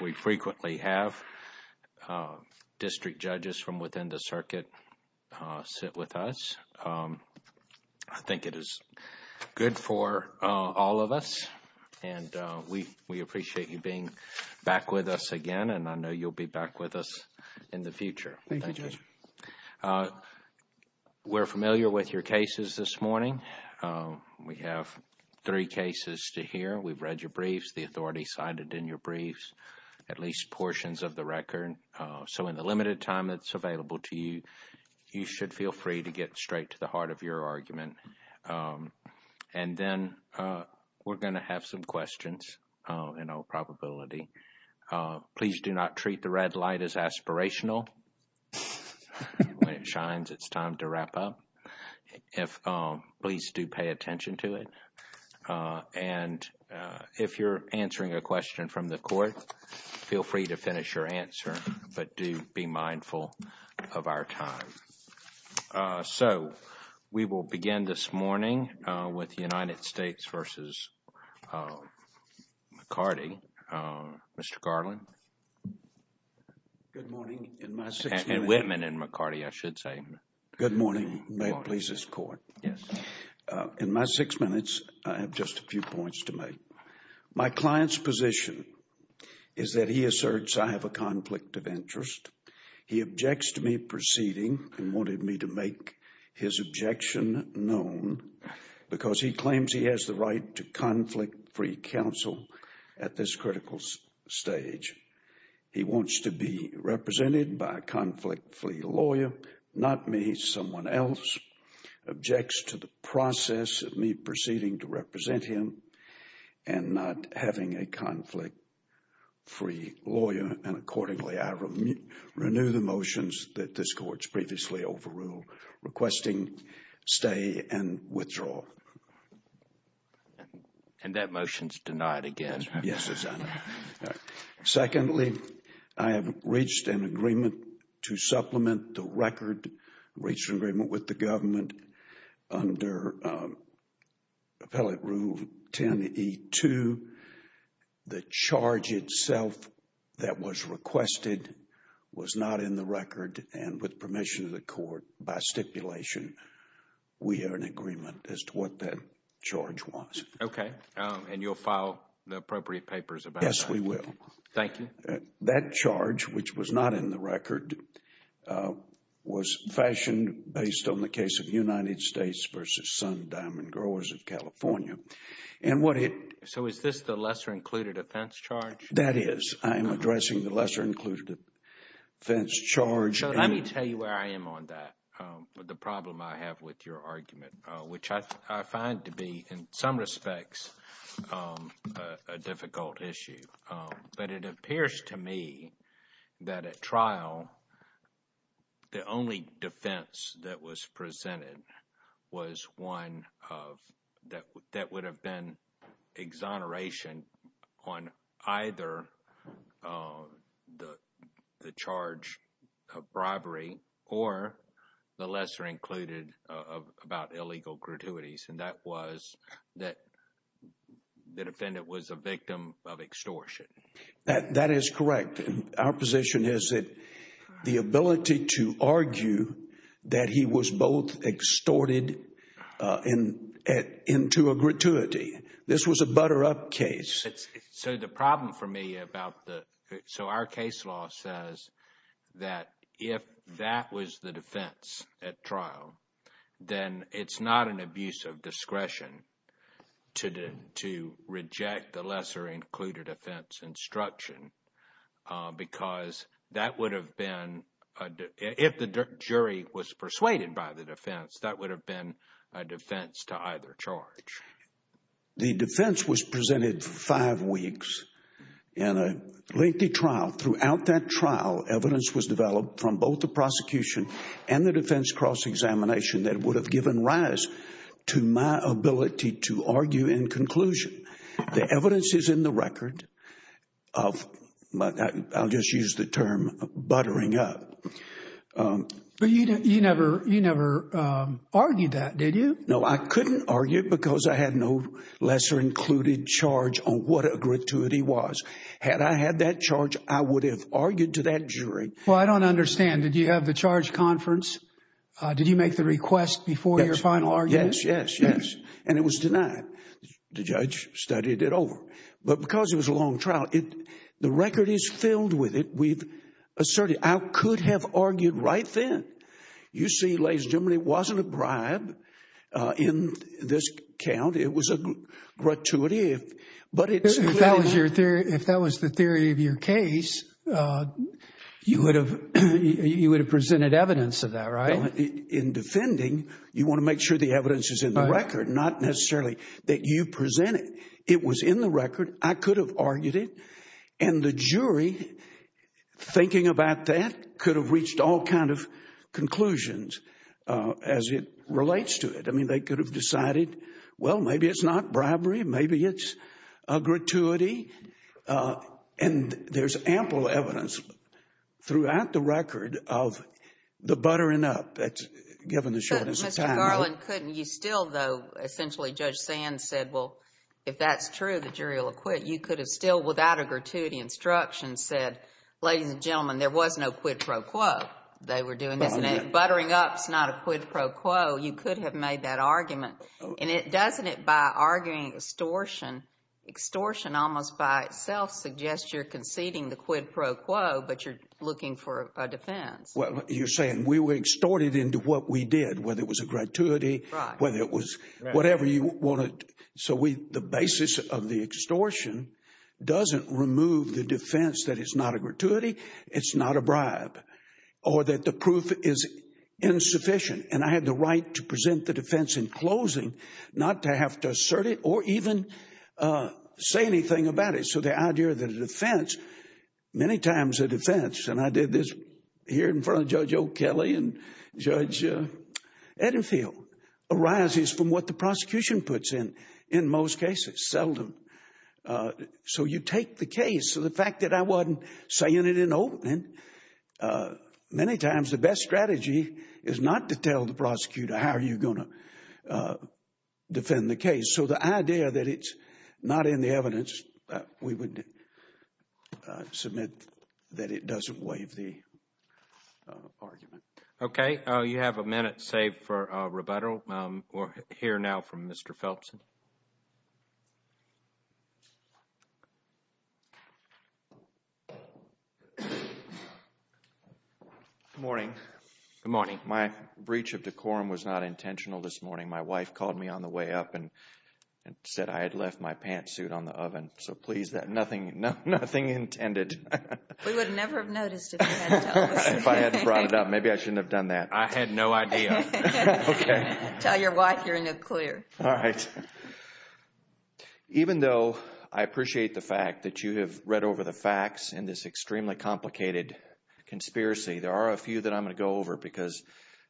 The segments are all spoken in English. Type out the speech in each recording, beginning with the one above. We frequently have district judges from within the circuit sit with us. I think it is good for all of us and we appreciate you being back with us again and I know you'll be back with us in the future. Thank you. We're familiar with your cases this at least portions of the record. So in the limited time that's available to you, you should feel free to get straight to the heart of your argument. And then we're going to have some questions in all probability. Please do not treat the red light as aspirational. When it shines, it's time to wrap up. Please do pay attention to it. And if you're answering a question from the court, feel free to finish your answer, but do be mindful of our time. So we will begin this morning with United States v. McCarty. Mr. Garland? Good morning. In my six minutes. And Whitman and McCarty, I should say. Good morning. In my six minutes, I have just a few points to make. My client's position is that he asserts I have a conflict of interest. He objects to me proceeding and wanted me to make his objection known because he claims he has the right to conflict-free counsel at this critical stage. He wants to be represented by a conflict-free lawyer, not me. Someone else objects to the process of me proceeding to represent him and not having a conflict-free lawyer. And accordingly, I renew the motions that this court's previously overruled, requesting stay and withdrawal. And that motion's denied again. Yes, it's on there. Secondly, I have reached an agreement to supplement the record, reached an agreement with the government under Appellate Rule 10e2. The charge itself that was requested was not in the record and with permission of the court, by stipulation, we are in agreement as to what that charge was. Okay. And you'll file the appropriate papers about that? Yes, we will. Thank you. That charge, which was not in the record, was fashioned based on the case of United States v. Sun Diamond Growers of California. And what it... So is this the lesser-included offense charge? That is. I am addressing the lesser-included offense charge. So let me tell you where I am on that, the problem I have with your argument, which I find to be, in some respects, a difficult issue. But it appears to me that at trial, the only defense that was presented was one that would have been exoneration on either the charge of bribery or the lesser-included about illegal gratuities. And that was that the defendant was a victim of extortion. That is correct. Our position is that the ability to argue that he was both extorted into a gratuity, this was a butter-up case. So the problem for me about the... So our case law says that if that was the defense at trial, then it's not an abuse of discretion to reject the lesser-included offense instruction. Because that would have been... If the jury was persuaded by the defense, that would have been a defense to either charge. The defense was presented five weeks in a lengthy trial. Throughout that trial, evidence was developed from both the prosecution and the defense cross-examination that would have given rise to my ability to argue in conclusion. The evidence is in the record of... I'll just use the term buttering up. But you never argued that, did you? No, I couldn't argue because I had no lesser-included charge on what a gratuity was. Had I had that charge, I would have argued to that jury. Well, I don't understand. Did you have the charge conference? Did you make the request before your final argument? Yes, yes, yes. And it was denied. The judge studied it over. But because it was a long trial, the record is filled with it. We've asserted. I could have argued right then. You see, ladies and gentlemen, it wasn't a bribe in this count. It was a gratuity. If that was the theory of your case, you would have presented evidence of that, right? In defending, you want to make sure the evidence is in the record, not necessarily that you present it. It was in the record. I could have argued it. And the jury, thinking about that, could have reached all kind of conclusions as it relates to it. I mean, they could have decided, well, maybe it's not bribery. Maybe it's a gratuity. And there's ample evidence throughout the record of the buttering up that's given the shortness of time. But Mr. Garland, couldn't you still, though, essentially, Judge Sands said, well, if that's true, the jury will acquit, you could have still, without a gratuity instruction, said, ladies and gentlemen, there was no quid pro quo. They were doing this. And buttering up is not a quid pro quo. You could have made that argument. And doesn't it, by arguing extortion, extortion almost by itself suggests you're conceding the quid pro quo, but you're looking for a defense. Well, you're saying we were extorted into what we did, whether it was a gratuity, whether it was whatever you wanted. So the basis of the extortion doesn't remove the defense that it's not a gratuity, it's not a bribe, or that the proof is insufficient. And I have the right to present the defense in closing, not to have to assert it or even say anything about it. So the idea that a defense, many times a defense, and I did this here in front of Judge O'Kelly and Judge Edenfield, arises from what the prosecution puts in, in most cases, seldom. So you take the case, so the fact that I wasn't saying it in opening, many times the best strategy is not to tell the prosecutor how are you going to defend the case. So the idea that it's not in the evidence, we would submit that it doesn't waive the argument. Okay, you have a minute saved for rebuttal. We'll hear now from Mr. Phelps. Good morning. Good morning. My breach of decorum was not intentional this morning. My wife called me on the way up and said I had left my pantsuit on the oven. So please, nothing intended. We would never have noticed if you hadn't told us. If I hadn't brought it up, maybe I shouldn't have done that. I had no idea. Okay. Tell your wife you're in a clear. All right. Even though I appreciate the fact that you have read over the facts in this extremely complicated conspiracy, there are a few that I'm going to go over because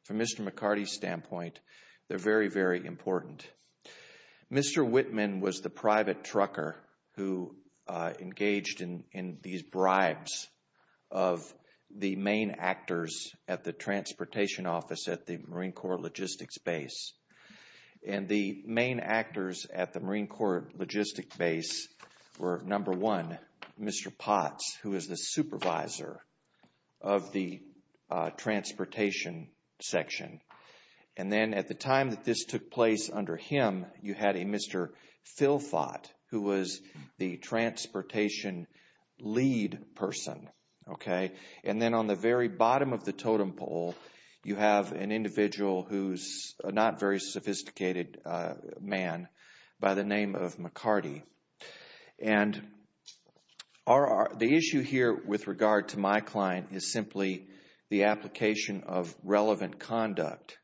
from Mr. McCarty's standpoint, they're very, very important. Mr. Whitman was the private trucker who engaged in these bribes of the main actors at the transportation office at the Marine Corps Logistics Base. And the main actors at the Marine Corps Logistics Base were, number one, Mr. Potts, who was the supervisor of the transportation section. And then at the time that this took place under him, you had a Mr. Philpott, who was the transportation lead person. Okay. And then on the very bottom of the totem pole, you have an individual who's a not very sophisticated man by the name of McCarty. And the issue here with regard to my client is simply the application of relevant conduct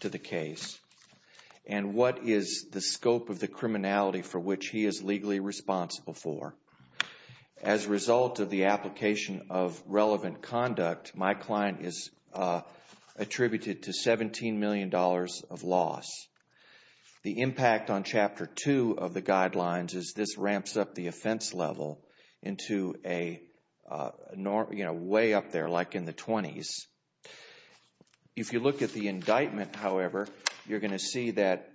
to the case and what is the scope of the criminality for which he is legally responsible for. As a result of the application of relevant conduct, my client is attributed to $17 million of loss. The impact on Chapter 2 of the guidelines is this ramps up the offense level into a way up there, like in the 20s. If you look at the indictment, however, you're going to see that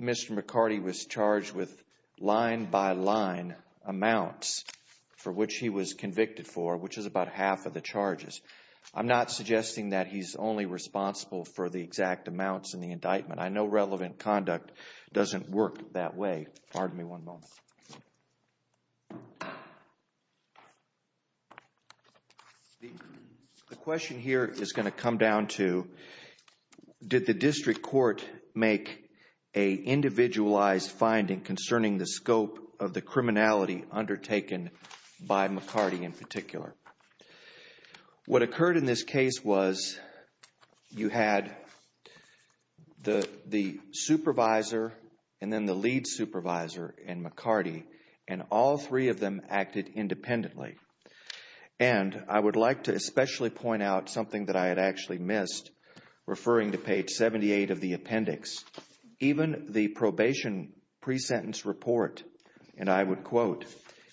Mr. McCarty was charged with line-by-line amounts for which he was convicted for, which is about half of the charges. I'm not suggesting that he's only responsible for the exact amounts in the indictment. I know relevant conduct doesn't work that way. Pardon make a individualized finding concerning the scope of the criminality undertaken by McCarty in particular. What occurred in this case was you had the supervisor and then the lead supervisor and McCarty, and all three of them acted independently. And I would like to especially point out something that I had actually missed, referring to page 78 of the appendix. Even the probation pre-sentence report, and I would quote,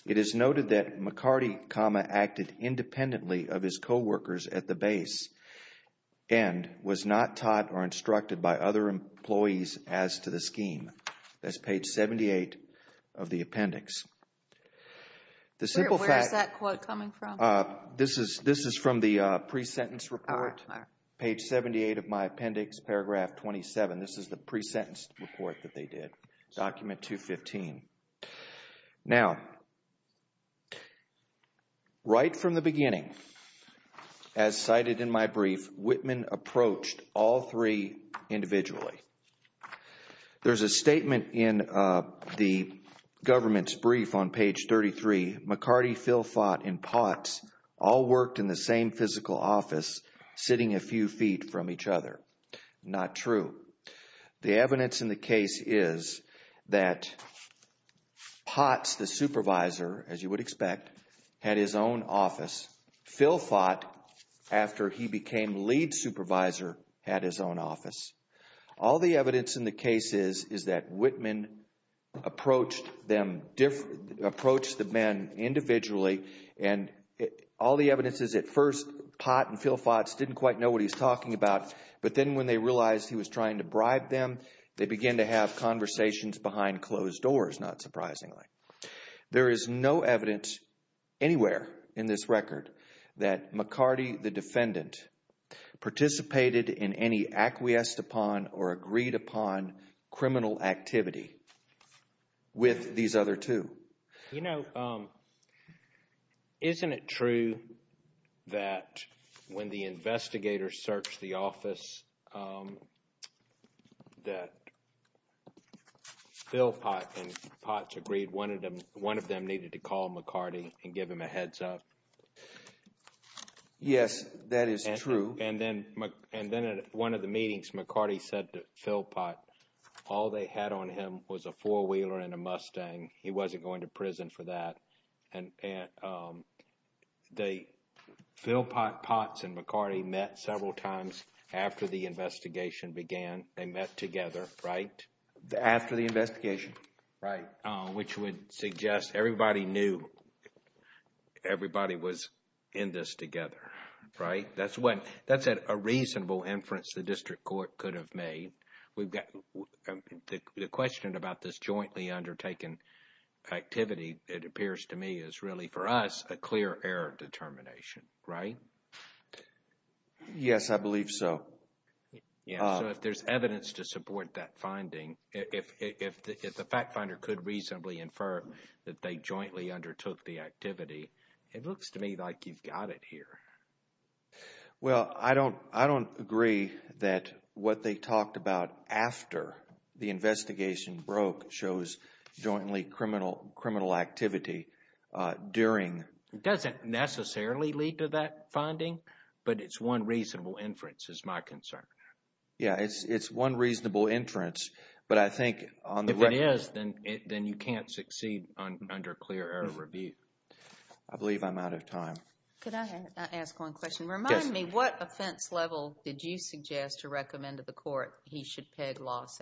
it is noted that McCarty, comma, acted independently of his co-workers at the base and was not taught or instructed by other employees as to the scheme. That's page 78 of the appendix. Where is that quote coming from? This is from the pre-sentence report, page 78 of my appendix, paragraph 27. This is the pre-sentence report that they did, document 215. Now, right from the beginning, as cited in my statement in the government's brief on page 33, McCarty, Phil Fott, and Potts all worked in the same physical office, sitting a few feet from each other. Not true. The evidence in the case is that Potts, the supervisor, as you would expect, had his own office. Phil Fott, after he became lead supervisor, had his own office. All the evidence in the case is that Whitman approached the men individually and all the evidences at first, Potts and Phil Fott didn't quite know what he was talking about, but then when they realized he was trying to bribe them, they began to have conversations behind closed doors, not surprisingly. There is no evidence anywhere in this record that McCarty, the defendant, participated in any acquiesced upon or agreed upon criminal activity with these other two. You know, isn't it true that when the investigators searched the office that Phil Fott and Potts agreed one of them needed to call McCarty and give him a heads up? Yes, that is true. And then at one of the meetings, McCarty said to Phil Fott, all they had on him was a four-wheeler and a Mustang. He wasn't going to prison for that. Phil Fott, Potts, and McCarty met several times after the investigation began. They met together, right? After the investigation. Right. Which would suggest everybody knew everybody was in this together, right? That's a reasonable inference the district court could have made. The question about this jointly undertaken activity, it appears to me, is really for us a clear error determination, right? Yes, I believe so. Yeah, so if there's evidence to support that finding, if the fact finder could reasonably infer that they jointly undertook the activity, it looks to me like you've got it here. Well, I don't agree that what they talked about after the investigation broke shows jointly criminal activity during... It doesn't necessarily lead to that Yeah, it's one reasonable inference, but I think... If it is, then you can't succeed under clear error review. I believe I'm out of time. Could I ask one question? Remind me, what offense level did you suggest to recommend to the court he should peg loss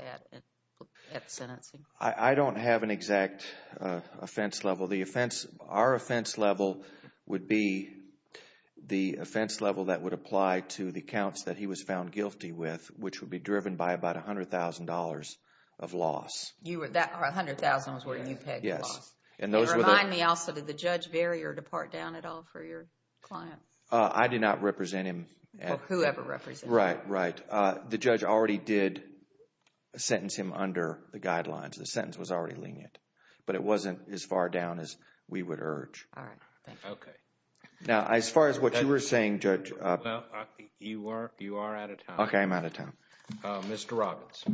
at sentencing? I don't have an exact offense level. Our offense level would be the offense level that would apply to the counts that he was found guilty with, which would be driven by about $100,000 of loss. $100,000 was where you pegged loss. Remind me also, did the judge vary or depart down at all for your client? I did not represent him. Whoever represented him. Right, right. The judge already did sentence him under the guidelines. The sentence was already lenient, but it wasn't as far down as we would urge. All right, thank you. Now, as far as what you were saying, Judge... You are out of time. Okay, I'm out of time. Mr. Robbins.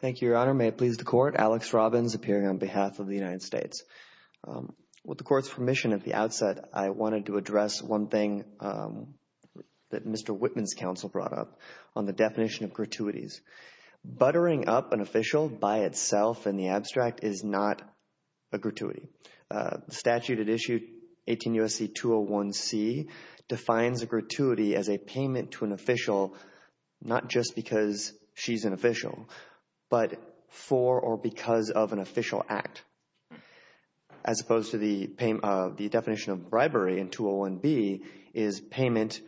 Thank you, Your Honor. May it please the court, Alex Robbins appearing on behalf of the United States. With the court's permission at the outset, I wanted to address one thing that Mr. Whitman's counsel brought up on the definition of gratuities. Buttering up an official by itself in the abstract is not a gratuity. The statute at issue 18 U.S.C. 201C defines a gratuity as a payment to an official, not just because she's an official, but for or because of an official act. As opposed to the definition of bribery in 201B is payment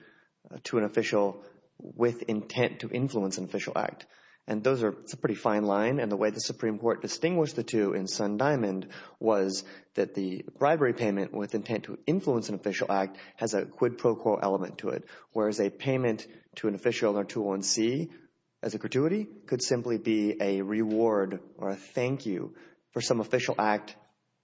to an official with intent to influence an official act. And those are a pretty fine line. And the way the Supreme Court distinguished the two in Sun Diamond was that the bribery payment with intent to influence an official act has a quid pro quo element to it. Whereas a payment to an official in 201C as a gratuity could simply be a reward or a thank you for some official act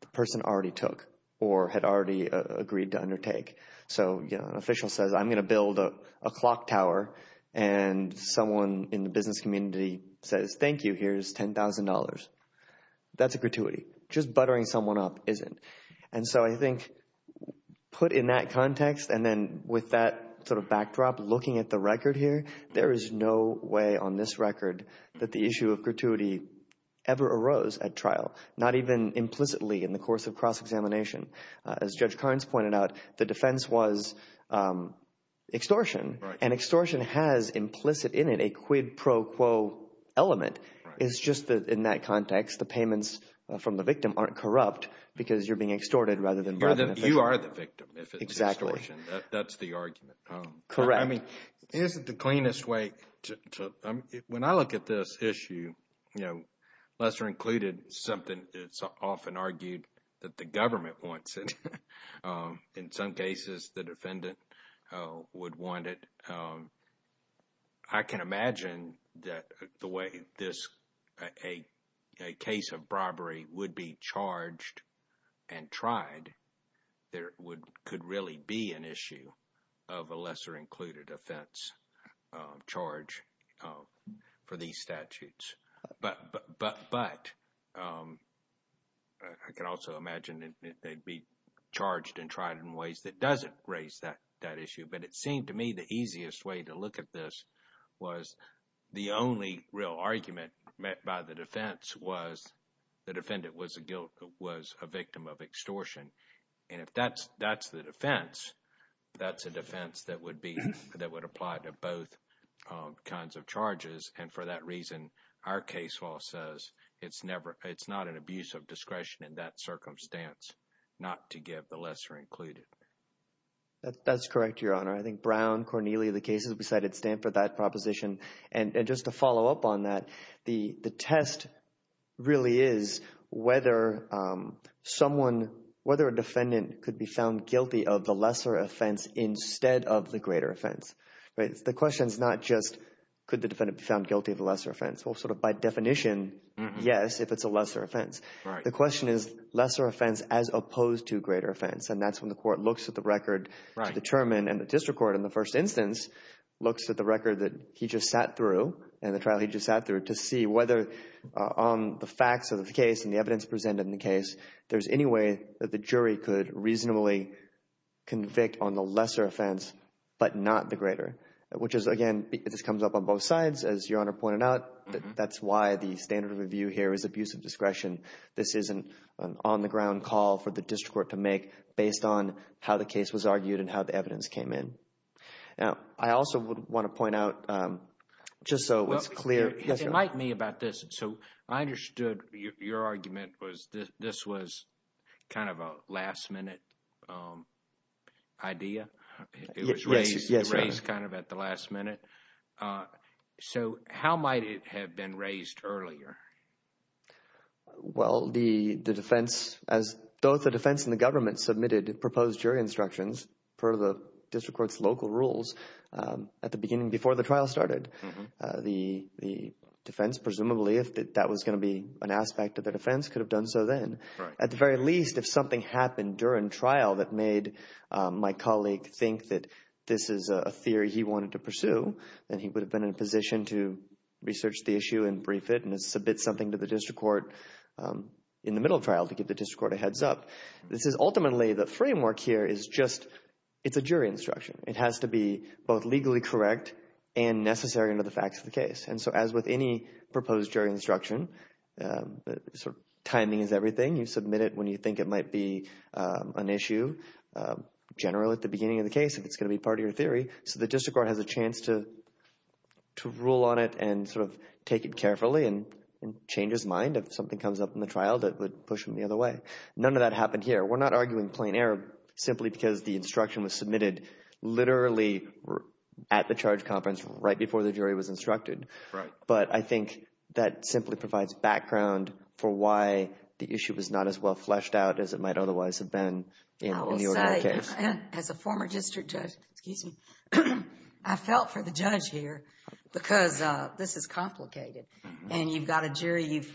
the person already took or had already agreed to undertake. So, you know, an official says, I'm going to build a clock tower. And someone in the business community says, thank you, here's $10,000. That's a gratuity. Just buttering someone up isn't. And so I think put in that context and then with that sort of backdrop, looking at the record here, there is no way on this record that the issue of gratuity ever arose at trial, not even implicitly in the course of cross-examination. As Judge Carnes pointed out, the defense was extortion. And extortion has implicit in it a quid pro quo element. It's just that in that context, the payments from the victim aren't corrupt because you're being extorted rather than... You are the victim if it's extortion. That's the argument. Correct. I mean, isn't the cleanest way to, when I look at this issue, you know, lesser included, something that's often argued that the government wants it. In some cases, the defendant would want it. I can imagine that the way this, a case of robbery would be charged and tried, there could really be an issue of a lesser included offense charge for these statutes. But I can also imagine that they'd be charged and tried in ways that doesn't raise that issue. But it seemed to me the easiest way to look at this was the only real argument met by the defense was the defendant was a victim of extortion. And if that's the defense, that's a defense that would apply to both kinds of charges. And for that reason, our case law says it's never, it's not an abuse of discretion in that circumstance not to give the lesser included. That's correct, Your Honor. I think Brown, Cornelia, the cases we cited stand for that proposition. And just to follow up on that, the test really is whether a defendant could be found guilty of the lesser offense instead of the greater offense. The question is not just, could the defendant be found guilty of the lesser offense? Well, sort of by definition, yes, if it's a lesser offense. The question is lesser offense as opposed to greater offense. And that's when the court looks at the record to determine and the district court in the first instance looks at the record that he just sat through and the trial he just sat through to see whether on the facts of the case and the evidence presented in the case, there's any way that the convict on the lesser offense, but not the greater, which is, again, this comes up on both sides, as Your Honor pointed out. That's why the standard of review here is abuse of discretion. This isn't an on the ground call for the district court to make based on how the case was argued and how the evidence came in. Now, I also would want to point out just so it's clear. It might mean this. So I understood your argument was this was kind of a last minute idea. It was raised kind of at the last minute. So how might it have been raised earlier? Well, the defense, as both the defense and the government submitted proposed jury instructions for the district court's local rules at the beginning before the trial started. The defense, presumably, if that was going to be an aspect of the defense, could have done so then. At the very least, if something happened during trial that made my colleague think that this is a theory he wanted to pursue, then he would have been in a position to research the issue and brief it and submit something to the district court in the middle trial to give the district court a heads up. This is ultimately the framework here is just it's a jury instruction. It has to be both legally correct and necessary under the facts of the case. And so as with any proposed jury instruction, timing is everything. You submit it when you think it might be an issue generally at the beginning of the case if it's going to be part of your theory. So the district court has a chance to rule on it and sort of take it carefully and change his mind if something comes up in the trial that would push him the other way. None of that happened here. We're not arguing plain error simply because the instruction was submitted literally at the charge conference right before the jury was instructed. Right. But I think that simply provides background for why the issue was not as well fleshed out as it might otherwise have been in the original case. I will say, as a former district judge, excuse me, I felt for the judge here because this is complicated. And you've got a jury, you've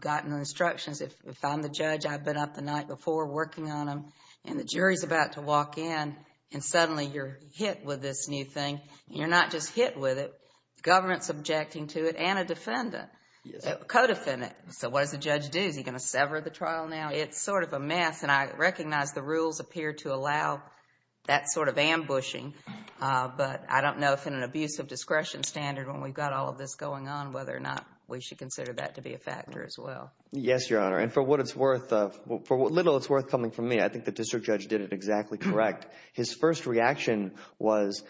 gotten instructions. If I'm the judge, I've been up the night before working on them and the jury's about to walk in and suddenly you're hit with this new thing. You're not just hit with it. Government's objecting to it and a defendant, a co-defendant. So what does the judge do? Is he going to sever the trial now? It's sort of a mess. And I recognize the rules appear to allow that sort of ambushing. But I don't know if in an abuse of discretion standard, when we've got all of this going on, whether or not we should consider that to be a factor as well. Yes, Your Honor. And for what it's worth, for what little it's worth coming from me, I think the district judge did it exactly correct. His first reaction was,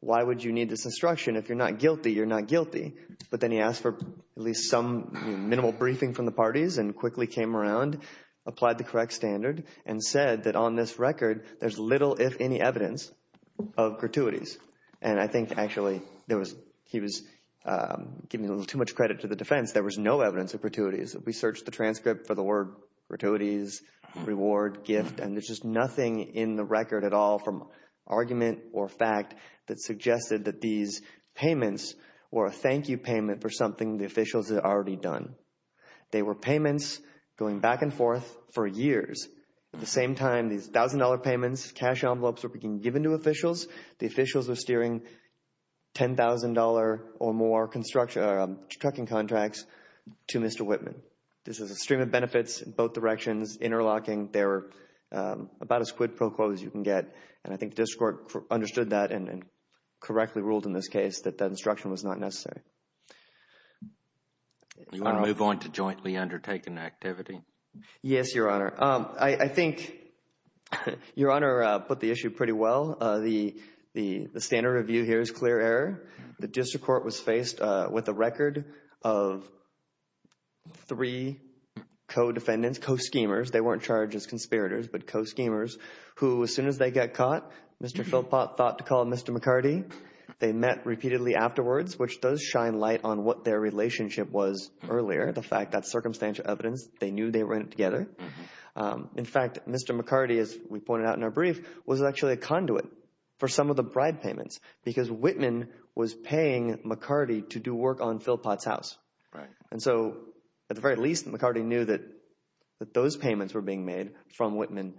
why would you need this instruction? If you're not guilty, you're not guilty. But then he asked for at least some minimal briefing from the parties and quickly came around, applied the correct standard, and said that on this record there's little, if any, evidence of gratuities. And I think actually there was, he was giving a little too much credit to the defense. There was no evidence of gratuities. We searched the transcript for the word gratuities, reward, gift, and there's just nothing in the record at all from argument or fact that suggested that these payments were a thank you payment for something the officials had already done. They were payments going back and forth for years. At the same time, these $1,000 payments, cash envelopes were being given to officials. The officials are steering $10,000 or more construction, trucking contracts to Mr. Whitman. This is a stream of benefits in both directions, interlocking. They're about as quid pro quo as you can get. And I think the district court understood that and correctly ruled in this case that that instruction was not necessary. You want to move on to jointly undertaken activity? Yes, Your Honor. I think Your Honor put the issue pretty well. The standard review here is clear error. The district court was faced with a record of three co-defendants, co-schemers. They weren't charged as conspirators, but co-schemers who as soon as they got caught, Mr. Philpott thought to call Mr. McCarty. They met repeatedly afterwards, which does shine light on what their rent together. In fact, Mr. McCarty, as we pointed out in our brief, was actually a conduit for some of the bribe payments because Whitman was paying McCarty to do work on Philpott's house. Right. And so at the very least, McCarty knew that those payments were being made from Whitman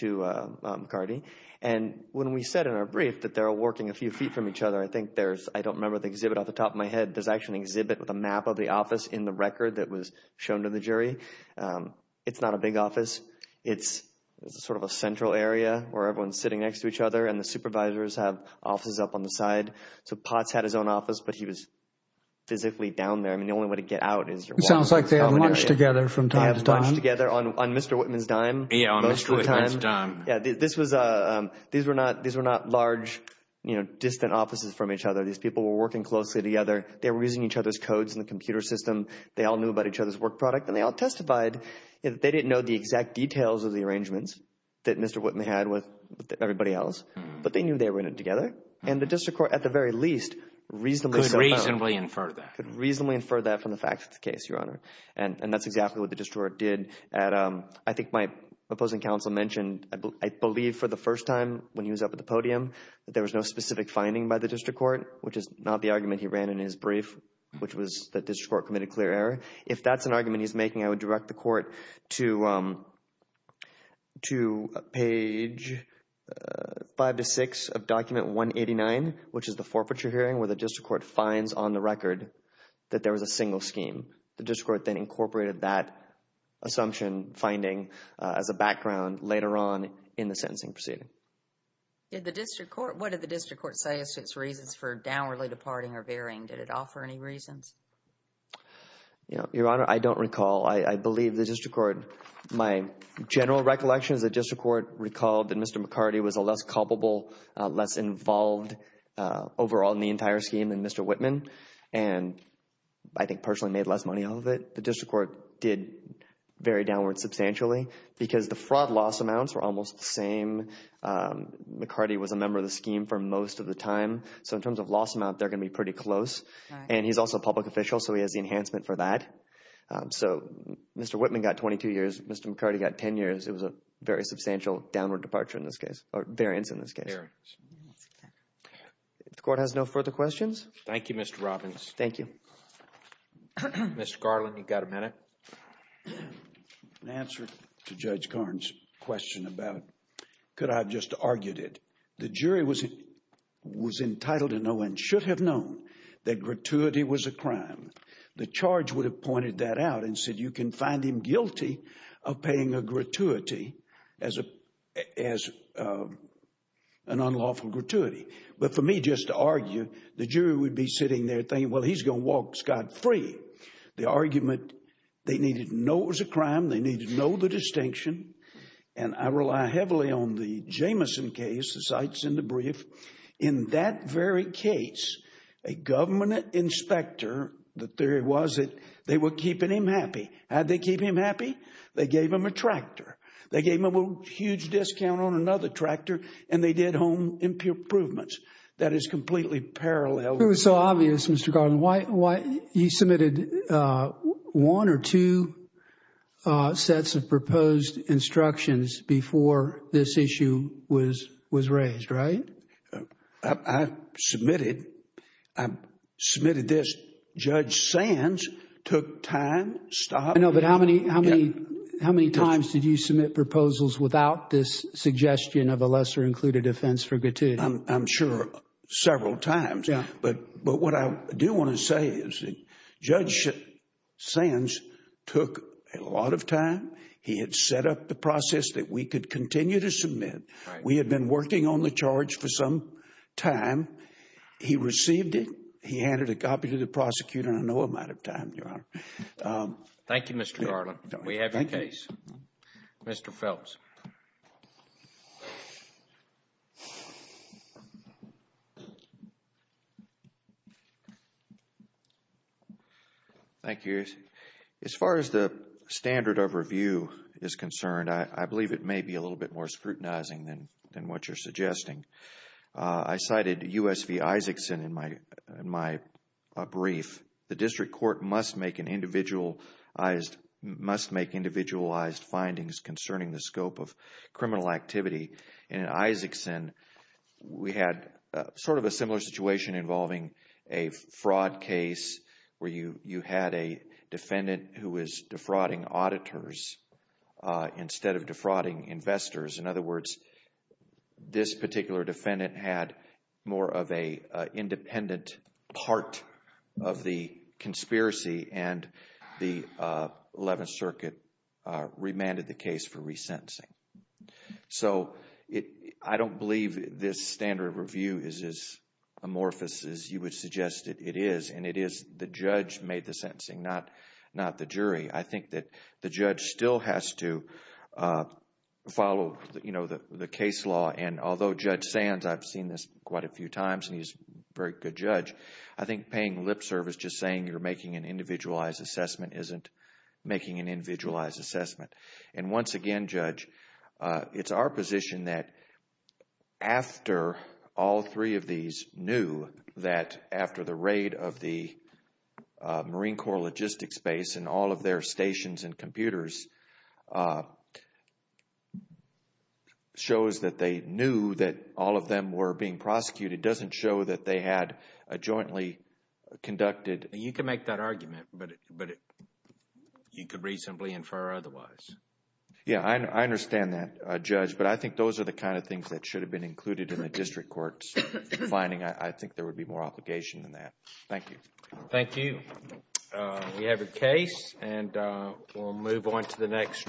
to McCarty. And when we said in our brief that they're working a few feet from each other, I think there's, I don't remember the exhibit off the top of my head, there's actually an exhibit with a map of the office in the record that was shown to the jury. It's not a big office. It's sort of a central area where everyone's sitting next to each other and the supervisors have offices up on the side. So Potts had his own office, but he was physically down there. I mean, the only way to get out is your walk. It sounds like they had lunch together from time to time. They had lunch together on Mr. Whitman's dime. Yeah, on Mr. Whitman's dime. Yeah. These were not large, distant offices from each other. These people were working closely together. They were using each other's codes in the computer system. They all knew about each other's work product, and they all testified that they didn't know the exact details of the arrangements that Mr. Whitman had with everybody else, but they knew they were in it together. And the district court, at the very least, reasonably said that. Could reasonably infer that. Could reasonably infer that from the facts of the case, Your Honor. And that's exactly what the district court did. I think my opposing counsel mentioned, I believe for the first time when he was up at the podium, that there was no specific finding by the district court, which is not the argument he ran in his brief, which was the district court committed clear error. If that's an argument he's making, I would direct the court to page five to six of document 189, which is the forfeiture hearing where the district court finds on the record that there was a single scheme. The district court then incorporated that assumption finding as a background later on in the sentencing proceeding. Did the district court, what did the district court say as to its reasons for downwardly departing or veering? Did it offer any reasons? You know, Your Honor, I don't recall. I believe the district court, my general recollection is the district court recalled that Mr. McCarty was a less culpable, less involved overall in the entire scheme than Mr. Whitman. And I think personally made less money out of it. The district court did very downward substantially because the fraud loss amounts were almost the McCarty was a member of the scheme for most of the time. So in terms of loss amount, they're going to be pretty close. And he's also a public official. So he has the enhancement for that. So Mr. Whitman got 22 years. Mr. McCarty got 10 years. It was a very substantial downward departure in this case or variance in this case. The court has no further questions. Thank you, Mr. Robbins. Thank you. Mr. Garland, you've got a minute. I have an answer to Judge Karn's question about could I have just argued it. The jury was entitled to know and should have known that gratuity was a crime. The charge would have pointed that out and said you can find him guilty of paying a gratuity as an unlawful gratuity. But for me, just to argue, the jury would be sitting there thinking, well, he's going to walk Scott free. The argument, they needed to know it was a crime. They needed to know the distinction. And I rely heavily on the Jamison case, the sites in the brief. In that very case, a government inspector, the theory was that they were keeping him happy. How did they keep him happy? They gave him a tractor. They gave him a huge discount on another tractor. And they did home improvements. That is completely parallel. It was so obvious, Mr. Garland, why he submitted one or two sets of proposed instructions before this issue was raised, right? I submitted, I submitted this. Judge Sands took time, stopped. I know, but how many times did you submit proposals without this suggestion of a lesser included offense for gratuity? I'm sure several times. But what I do want to say is Judge Sands took a lot of time. He had set up the process that we could continue to submit. We had been working on the charge for some time. He received it. He handed a copy to the prosecutor. I know I'm out of time, Your Honor. Thank you, Mr. Garland. We have your case. Mr. Phelps. Thank you. As far as the standard of review is concerned, I believe it may be a little bit more scrutinizing than what you're suggesting. I cited U.S. v. Isaacson in my brief. The district court must make individualized findings concerning the scope of criminal activity. In Isaacson, we had sort of a similar situation involving a fraud case where you had a defendant who was defrauding auditors instead of defrauding investors. In other words, this particular defendant had more of an independent part of the conspiracy and the Eleventh Circuit remanded the case for resentencing. I don't believe this standard review is as amorphous as you would suggest it is. The judge made the sentencing, not the jury. I think that the judge still has to follow the case law. Although Judge Sands, I've seen this quite a few times and he's a very good judge, I think paying lip service just saying you're making an individualized assessment isn't making an individualized assessment. Once again, Judge, it's our position that after all three of these knew that after the raid of the stations and computers shows that they knew that all of them were being prosecuted, it doesn't show that they had a jointly conducted... You can make that argument, but you could reasonably infer otherwise. Yeah, I understand that, Judge, but I think those are the kind of things that should have been included in the district court's finding. I think there would be more obligation than that. Thank you. Thank you. We have your case and we'll move on to the next.